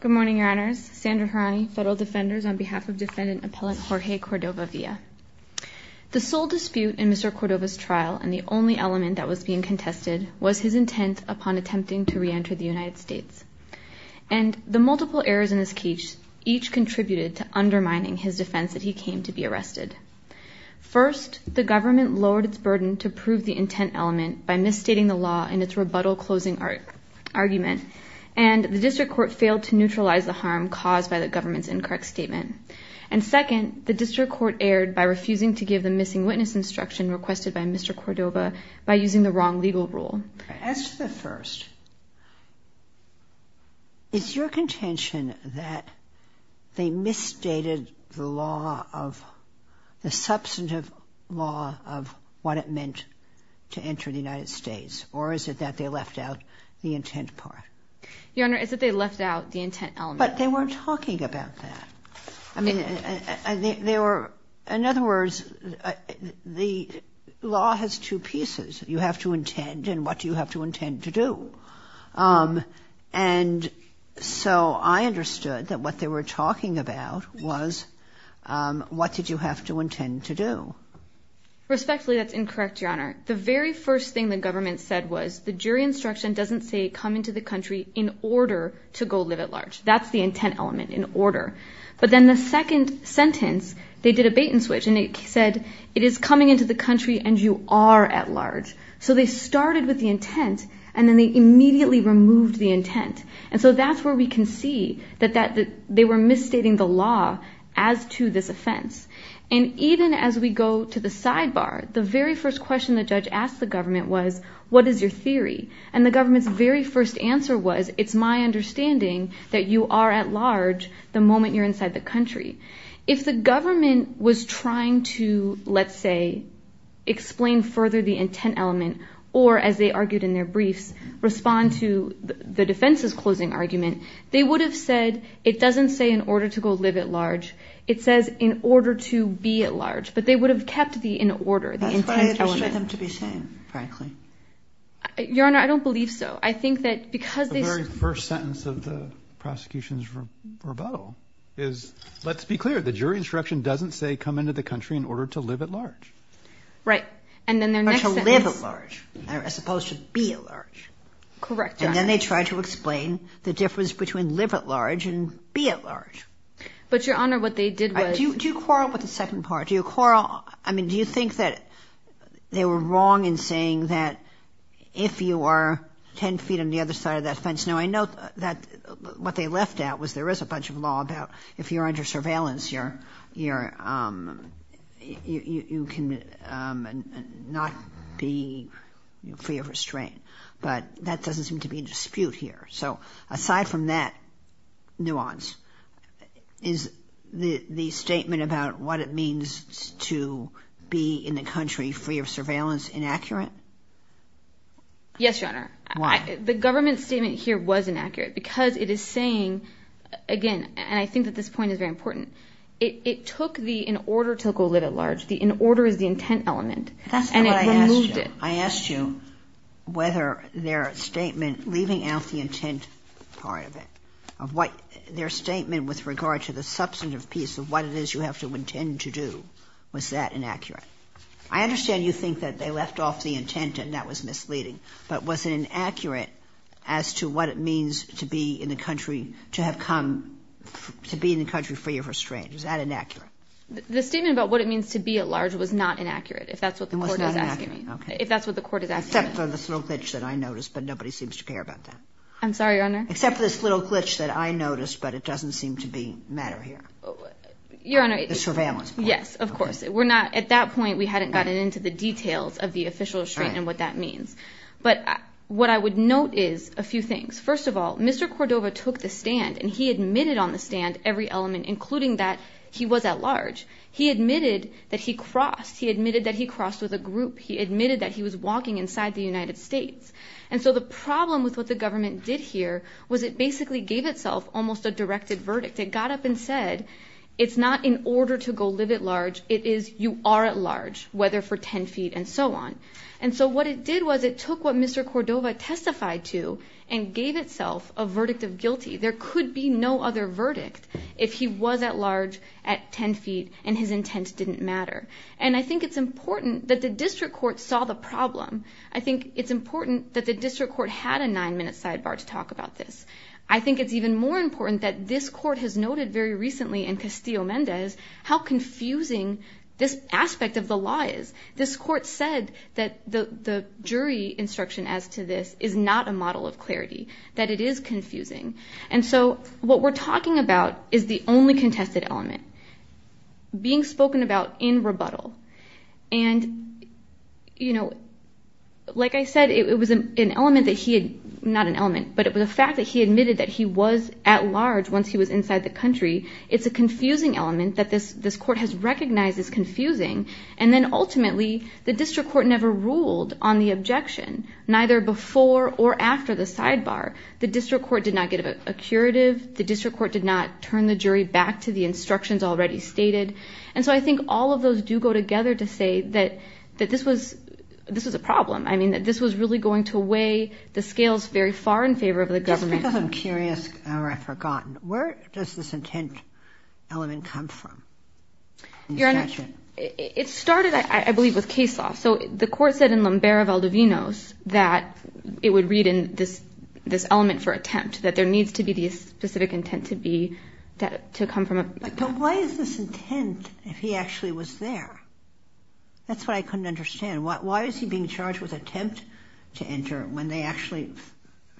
Good morning, Your Honors. Sandra Harani, Federal Defenders, on behalf of Defendant Appellant Jorge Cordova-Villa. The sole dispute in Mr. Cordova's trial, and the only element that was being contested, was his intent upon attempting to reenter the United States. And the multiple errors in this case each contributed to undermining his defense that he came to be arrested. First, the government lowered its burden to prove the intent element by misstating the law in its rebuttal closing argument, and the district court failed to neutralize the harm caused by the government's incorrect statement. And second, the district court erred by refusing to give the missing witness instruction requested by Mr. Cordova by using the wrong legal rule. As to the first, is your contention that they misstated the law of, the substantive law of what it meant to enter the United States, or is it that they left out the intent part? Your Honor, it's that they left out the intent element. But they weren't talking about that. I mean, they were, in other words, the law has two pieces. You have to intend, and what do you have to intend to do? And so I understood that what they were talking about was what did you have to intend to do. Respectfully, that's incorrect, Your Honor. The very first thing the government said was the jury instruction doesn't say come into the country in order to go live at large. That's the intent element, in order. But then the second sentence, they did a bait and switch, and it said it is coming into the country and you are at large. So they started with the intent, and then they immediately removed the intent. And so that's where we can see that they were misstating the law as to this offense. And even as we go to the sidebar, the very first question the judge asked the government was what is your theory? And the government's very first answer was it's my understanding that you are at large the moment you're inside the country. If the government was trying to, let's say, explain further the intent element or, as they argued in their briefs, respond to the defense's closing argument, they would have said it doesn't say in order to go live at large. It says in order to be at large. But they would have kept the in order, the intent element. What do you expect them to be saying, frankly? Your Honor, I don't believe so. I think that because they say – The very first sentence of the prosecution's rebuttal is let's be clear. The jury instruction doesn't say come into the country in order to live at large. Right. And then their next sentence – But to live at large as opposed to be at large. Correct, Your Honor. And then they tried to explain the difference between live at large and be at large. But, Your Honor, what they did was – Do you quarrel with the second part? Do you quarrel – I mean, do you think that they were wrong in saying that if you are 10 feet on the other side of that fence – Now, I know that what they left out was there is a bunch of law about if you're under surveillance, you can not be free of restraint. But that doesn't seem to be in dispute here. So aside from that nuance, is the statement about what it means to be in the country free of surveillance inaccurate? Yes, Your Honor. Why? The government statement here was inaccurate because it is saying – again, and I think that this point is very important – it took the in order to go live at large. The in order is the intent element. That's not what I asked you. And it removed it. I asked you whether their statement leaving out the intent part of it, their statement with regard to the substantive piece of what it is you have to intend to do, was that inaccurate? I understand you think that they left off the intent and that was misleading. But was it inaccurate as to what it means to be in the country, to have come to be in the country free of restraint? Was that inaccurate? The statement about what it means to be at large was not inaccurate, if that's what the Court is asking me. Okay. Except for this little glitch that I noticed, but nobody seems to care about that. I'm sorry, Your Honor? Except for this little glitch that I noticed, but it doesn't seem to matter here. Your Honor. The surveillance part. Yes, of course. At that point, we hadn't gotten into the details of the official restraint and what that means. But what I would note is a few things. First of all, Mr. Cordova took the stand and he admitted on the stand every element, He admitted that he crossed. He admitted that he crossed with a group. He admitted that he was walking inside the United States. And so the problem with what the government did here was it basically gave itself almost a directed verdict. It got up and said, it's not in order to go live at large. It is you are at large, whether for 10 feet and so on. And so what it did was it took what Mr. Cordova testified to and gave itself a verdict of guilty. There could be no other verdict if he was at large at 10 feet and his intent didn't matter. And I think it's important that the district court saw the problem. I think it's important that the district court had a nine-minute sidebar to talk about this. I think it's even more important that this court has noted very recently in Castillo-Mendez how confusing this aspect of the law is. This court said that the jury instruction as to this is not a model of clarity, that it is confusing. And so what we're talking about is the only contested element. Being spoken about in rebuttal. And, you know, like I said, it was an element that he had, not an element, but it was a fact that he admitted that he was at large once he was inside the country. It's a confusing element that this court has recognized as confusing. And then ultimately the district court never ruled on the objection, neither before or after the sidebar. The district court did not get a curative. The district court did not turn the jury back to the instructions already stated. And so I think all of those do go together to say that this was a problem. I mean, that this was really going to weigh the scales very far in favor of the government. Just because I'm curious, or I've forgotten, where does this intent element come from? Your Honor, it started, I believe, with case law. So the court said in Lumbera-Valdivinos that it would read in this element for attempt, that there needs to be this specific intent to be, to come from a... But why is this intent if he actually was there? That's what I couldn't understand. Why is he being charged with attempt to enter when they actually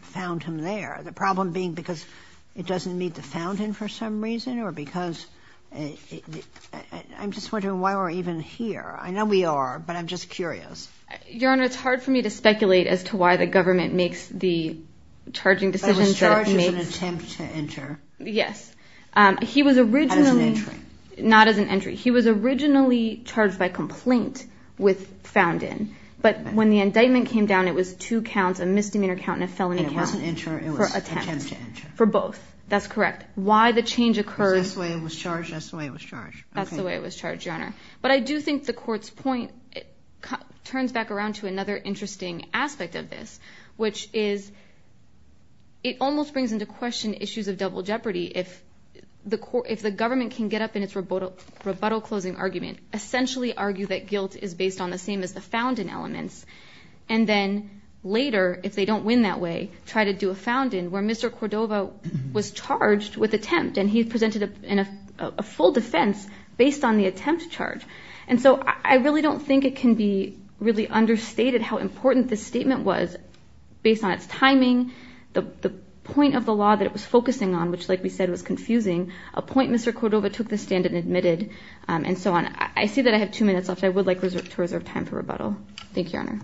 found him there? The problem being because it doesn't meet the fountain for some reason, or because... I'm just wondering why we're even here. I know we are, but I'm just curious. Your Honor, it's hard for me to speculate as to why the government makes the charging decisions... But it was charged as an attempt to enter. Yes. He was originally... As an entry. Not as an entry. He was originally charged by complaint with found in. But when the indictment came down, it was two counts, a misdemeanor count and a felony count. And it wasn't enter, it was attempt to enter. For both. That's correct. Why the change occurs... Because that's the way it was charged, that's the way it was charged. That's the way it was charged, Your Honor. But I do think the court's point turns back around to another interesting aspect of this, which is... It almost brings into question issues of double jeopardy. If the government can get up in its rebuttal closing argument, essentially argue that guilt is based on the same as the found in elements, and then later, if they don't win that way, try to do a found in, where Mr. Cordova was charged with attempt, and he presented a full defense based on the attempt charge. And so I really don't think it can be really understated how important this statement was based on its timing, the point of the law that it was focusing on, which, like we said, was confusing, a point Mr. Cordova took the stand and admitted, and so on. I see that I have two minutes left. I would like to reserve time for rebuttal. Thank you, Your Honor.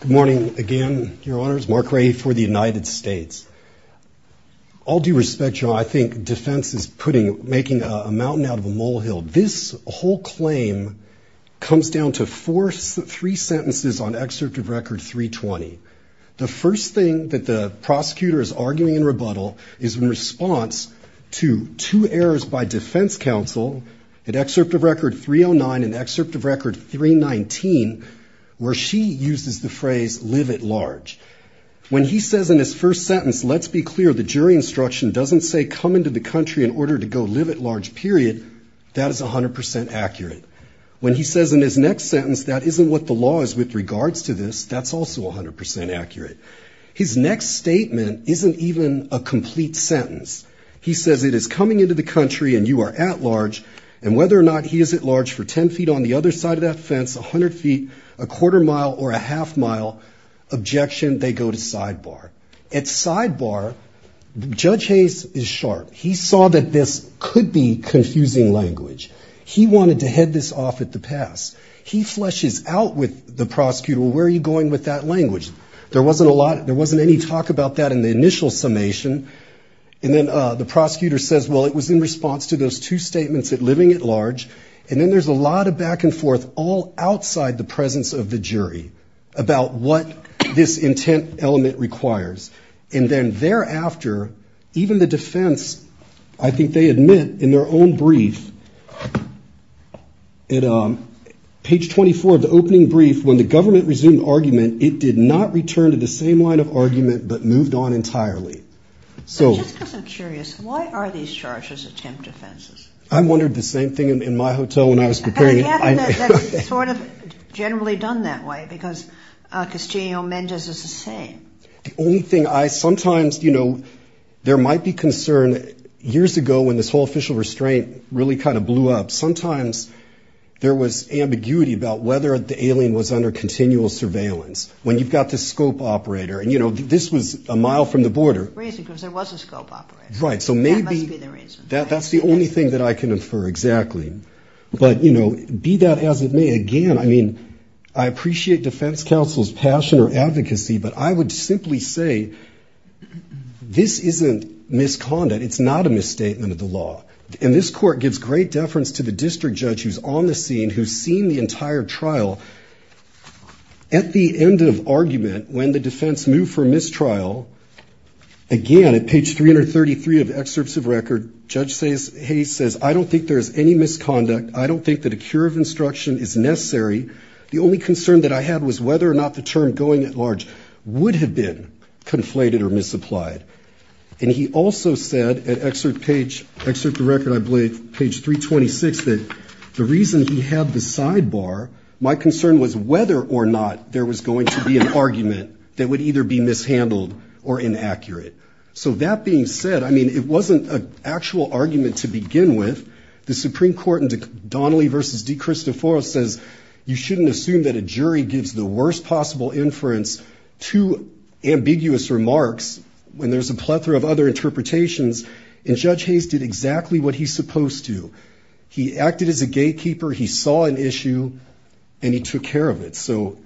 Good morning again, Your Honors. Mark Raihey for the United States. All due respect, Your Honor, I think defense is making a mountain out of a molehill. This whole claim comes down to three sentences on excerpt of Record 320. The first thing that the prosecutor is arguing in rebuttal is in response to two errors by defense counsel at excerpt of Record 309 and excerpt of Record 319, where she uses the phrase, live at large. When he says in his first sentence, let's be clear, the jury instruction doesn't say, come into the country in order to go live at large, period, that is 100% accurate. When he says in his next sentence, that isn't what the law is with regards to this, that's also 100% accurate. His next statement isn't even a complete sentence. He says, it is coming into the country and you are at large, and whether or not he is at large for 10 feet on the other side of that fence, 100 feet, a quarter mile or a half mile objection, they go to sidebar. At sidebar, Judge Hayes is sharp. He saw that this could be confusing language. He wanted to head this off at the pass. He flushes out with the prosecutor, well, where are you going with that language? There wasn't a lot, there wasn't any talk about that in the initial summation. And then the prosecutor says, well, it was in response to those two statements, living at large, and then there's a lot of back and forth all outside the presence of the jury about what this intent element requires. And then thereafter, even the defense, I think they admit in their own brief, at page 24 of the opening brief, when the government resumed argument, it did not return to the same line of argument but moved on entirely. Just because I'm curious, why are these charges attempt offenses? I wondered the same thing in my hotel when I was preparing. It's sort of generally done that way because Castillo-Mendez is the same. The only thing I sometimes, you know, there might be concern. Years ago when this whole official restraint really kind of blew up, sometimes there was ambiguity about whether the alien was under continual surveillance. When you've got the scope operator, and, you know, this was a mile from the border. Reason, because there was a scope operator. Right, so maybe that's the only thing that I can infer exactly. But, you know, be that as it may, again, I mean, I appreciate defense counsel's passion or advocacy, but I would simply say this isn't misconduct. It's not a misstatement of the law. And this court gives great deference to the district judge who's on the scene, who's seen the entire trial. At the end of argument, when the defense moved for mistrial, again, at page 333 of excerpts of record, Judge Hayes says, I don't think there's any misconduct. I don't think that a cure of instruction is necessary. The only concern that I had was whether or not the term going at large would have been conflated or misapplied. And he also said at excerpt page, excerpt of record, I believe, page 326, that the reason he had the sidebar, my concern was whether or not there was going to be an argument that would either be mishandled or inaccurate. So that being said, I mean, it wasn't an actual argument to begin with. The Supreme Court in Donnelly v. De Cristoforo says you shouldn't assume that a jury gives the worst possible inference to ambiguous remarks when there's a plethora of other interpretations. And Judge Hayes did exactly what he's supposed to. He acted as a gatekeeper. He saw an issue and he took care of it. So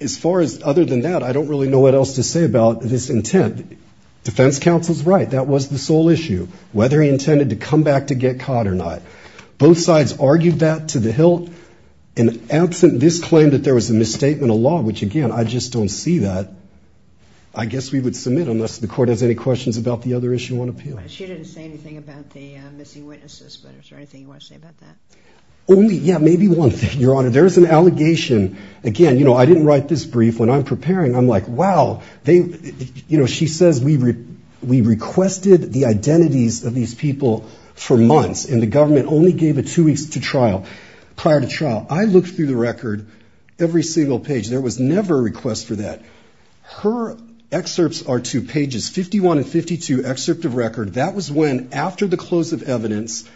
as far as other than that, I don't really know what else to say about this intent. Defense counsel's right. That was the sole issue, whether he intended to come back to get caught or not. Both sides argued that to the hilt. And absent this claim that there was a misstatement of law, which, again, I just don't see that, I guess we would submit unless the court has any questions about the other issue on appeal. She didn't say anything about the missing witnesses, but is there anything you want to say about that? Only, yeah, maybe one thing, Your Honor. There is an allegation. Again, you know, I didn't write this brief. When I'm preparing, I'm like, wow, they, you know, she says we requested the identities of these people for months, and the government only gave it two weeks to trial, prior to trial. I looked through the record every single page. There was never a request for that. Her excerpts are two pages, 51 and 52 excerpt of record. That was when, after the close of evidence,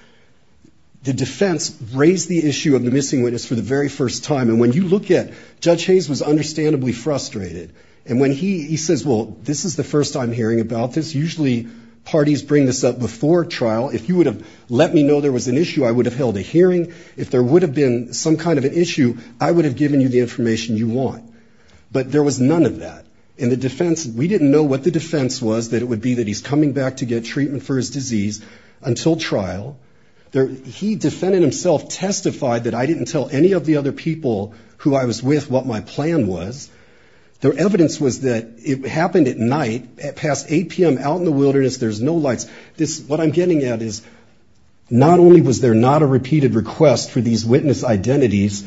the defense raised the issue of the missing witness for the very first time. And when you look at, Judge Hayes was understandably frustrated. And when he says, well, this is the first time hearing about this. Usually parties bring this up before trial. If you would have let me know there was an issue, I would have held a hearing. If there would have been some kind of an issue, I would have given you the information you want. But there was none of that. And the defense, we didn't know what the defense was, that it would be that he's coming back to get treatment for his disease until trial. He defended himself, testified that I didn't tell any of the other people who I was with what my plan was. The evidence was that it happened at night, past 8 p.m., out in the wilderness, there's no lights. What I'm getting at is not only was there not a repeated request for these witness identities,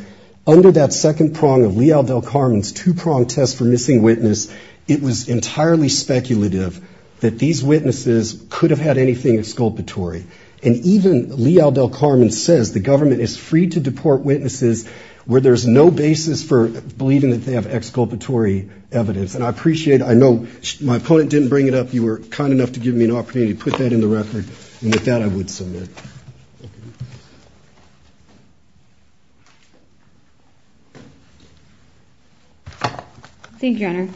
under that second prong of Lee Aldell-Carmen's two-pronged test for missing witness, it was entirely speculative that these witnesses could have had anything exculpatory. And even Lee Aldell-Carmen says the government is free to deport witnesses where there's no basis for believing that they have exculpatory evidence. And I appreciate, I know my opponent didn't bring it up. You were kind enough to give me an opportunity to put that in the record. And with that, I would submit. Thank you, Your Honor.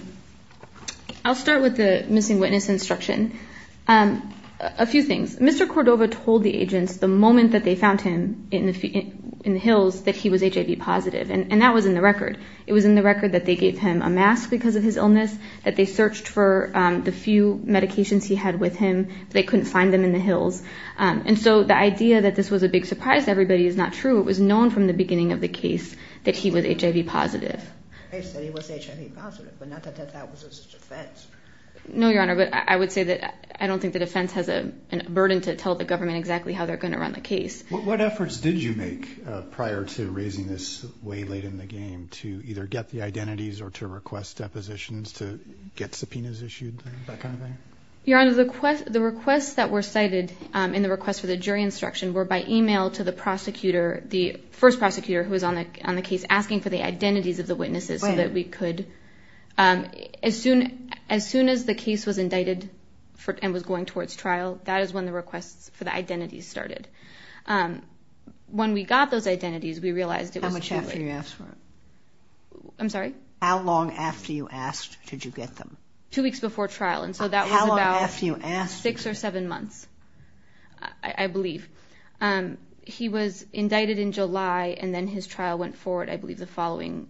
I'll start with the missing witness instruction. A few things. Mr. Cordova told the agents the moment that they found him in the hills that he was HIV positive, and that was in the record. It was in the record that they gave him a mask because of his illness, that they searched for the few medications he had with him, but they couldn't find them in the hills. And so the idea that this was a big surprise to everybody is not true. It was known from the beginning of the case that he was HIV positive. They said he was HIV positive, but not that that was his defense. No, Your Honor, but I would say that I don't think the defense has a burden to tell the government exactly how they're going to run the case. What efforts did you make prior to raising this way late in the game to either get the identities or to request depositions to get subpoenas issued, that kind of thing? Your Honor, the requests that were cited in the request for the jury instruction were by email to the prosecutor, the first prosecutor who was on the case, asking for the identities of the witnesses so that we could. When? As soon as the case was indicted and was going towards trial, that is when the requests for the identities started. When we got those identities, we realized it was too late. How much after you asked for them? I'm sorry? How long after you asked did you get them? Two weeks before trial, and so that was about six or seven months, I believe. He was indicted in July, and then his trial went forward, I believe, the following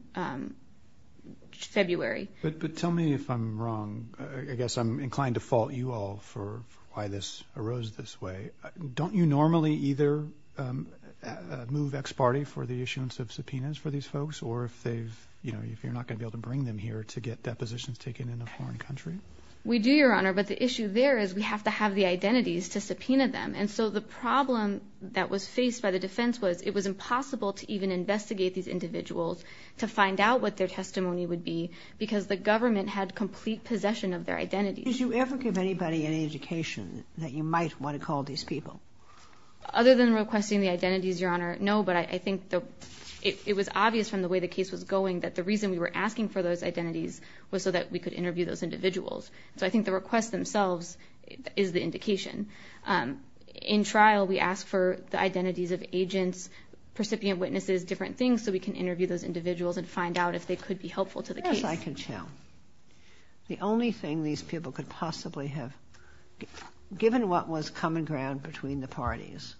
February. But tell me if I'm wrong. I guess I'm inclined to fault you all for why this arose this way. Don't you normally either move ex parte for the issuance of subpoenas for these folks or if you're not going to be able to bring them here to get depositions taken in a foreign country? We do, Your Honor, but the issue there is we have to have the identities to subpoena them, and so the problem that was faced by the defense was it was impossible to even investigate these individuals to find out what their testimony would be because the government had complete possession of their identities. Did you ever give anybody any education that you might want to call these people? Other than requesting the identities, Your Honor, no, but I think it was obvious from the way the case was going that the reason we were asking for those identities was so that we could interview those individuals. So I think the request themselves is the indication. In trial, we ask for the identities of agents, recipient witnesses, different things, so we can interview those individuals and find out if they could be helpful to the case. Yes, I can tell. The only thing these people could possibly have, given what was common ground between the parties,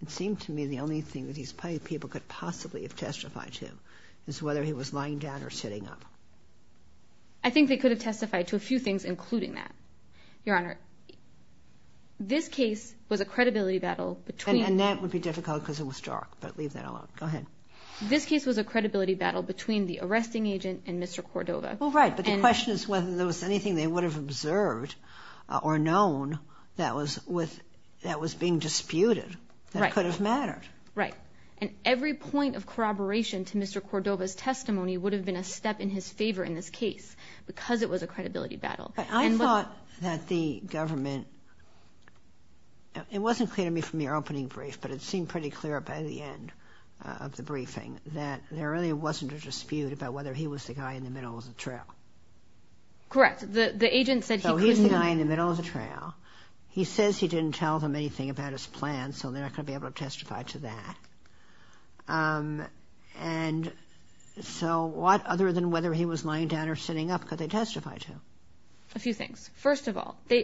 it seemed to me the only thing that these people could possibly have testified to is whether he was lying down or sitting up. I think they could have testified to a few things including that, Your Honor. This case was a credibility battle between... And that would be difficult because it was dark, but leave that alone. Go ahead. This case was a credibility battle between the arresting agent and Mr. Cordova. Well, right, but the question is whether there was anything they would have observed or known that was being disputed that could have mattered. Right, and every point of corroboration to Mr. Cordova's testimony would have been a step in his favor in this case because it was a credibility battle. I thought that the government, it wasn't clear to me from your opening brief, but it seemed pretty clear by the end of the briefing that there really wasn't a dispute about whether he was the guy in the middle of the trail. Correct. The agent said he could have seen... So he's the guy in the middle of the trail. He says he didn't tell them anything about his plans, so they're not going to be able to testify to that. And so what other than whether he was lying down or sitting up could they testify to? A few things. They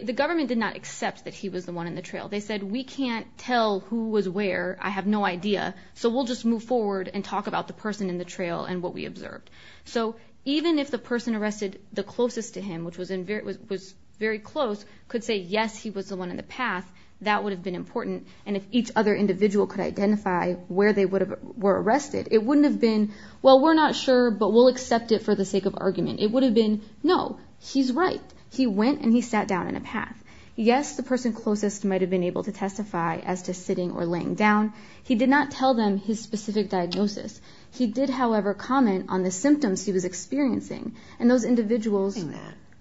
said, we can't tell who was where, I have no idea, so we'll just move forward and talk about the person in the trail and what we observed. So even if the person arrested the closest to him, which was very close, could say, yes, he was the one in the path, that would have been important. And if each other individual could identify where they were arrested, it wouldn't have been, well, we're not sure, but we'll accept it for the sake of argument. It would have been, no, he's right. He went and he sat down in a path. Yes, the person closest might have been able to testify as to sitting or laying down. He did not tell them his specific diagnosis. He did, however, comment on the symptoms he was experiencing, and those individuals...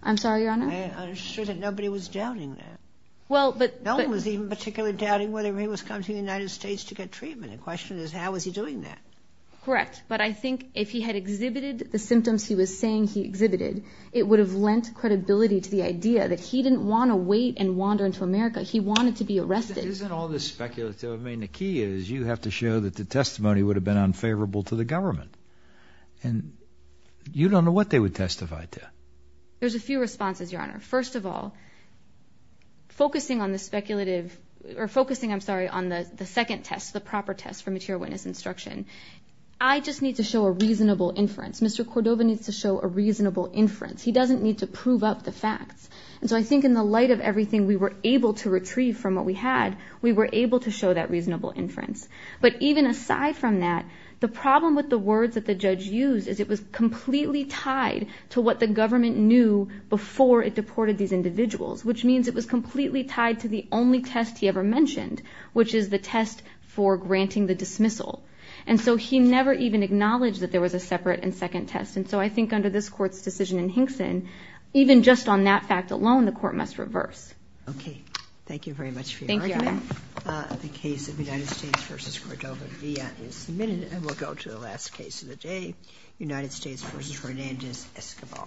I'm sorry, Your Honor. I'm sure that nobody was doubting that. Well, but... No one was even particularly doubting whether he was coming to the United States to get treatment. The question is, how was he doing that? Correct. But I think if he had exhibited the symptoms he was saying he exhibited, it would have lent credibility to the idea that he didn't want to wait and wander into America. He wanted to be arrested. Isn't all this speculative? I mean, the key is you have to show that the testimony would have been unfavorable to the government. And you don't know what they would testify to. There's a few responses, Your Honor. First of all, focusing on the speculative, or focusing, I'm sorry, on the second test, the proper test for material witness instruction, I just need to show a reasonable inference. Mr. Cordova needs to show a reasonable inference. He doesn't need to prove up the facts. And so I think in the light of everything we were able to retrieve from what we had, we were able to show that reasonable inference. But even aside from that, the problem with the words that the judge used is it was completely tied to what the government knew before it deported these individuals, which means it was completely tied to the only test he ever mentioned, which is the test for granting the dismissal. And so he never even acknowledged that there was a separate and second test. And so I think under this Court's decision in Hinkson, even just on that fact alone, the Court must reverse. Okay. Thank you very much for your argument. Thank you, Your Honor. The case of United States v. Cordova-Villa is submitted, and we'll go to the last case of the day, United States v. Fernandez-Escobar.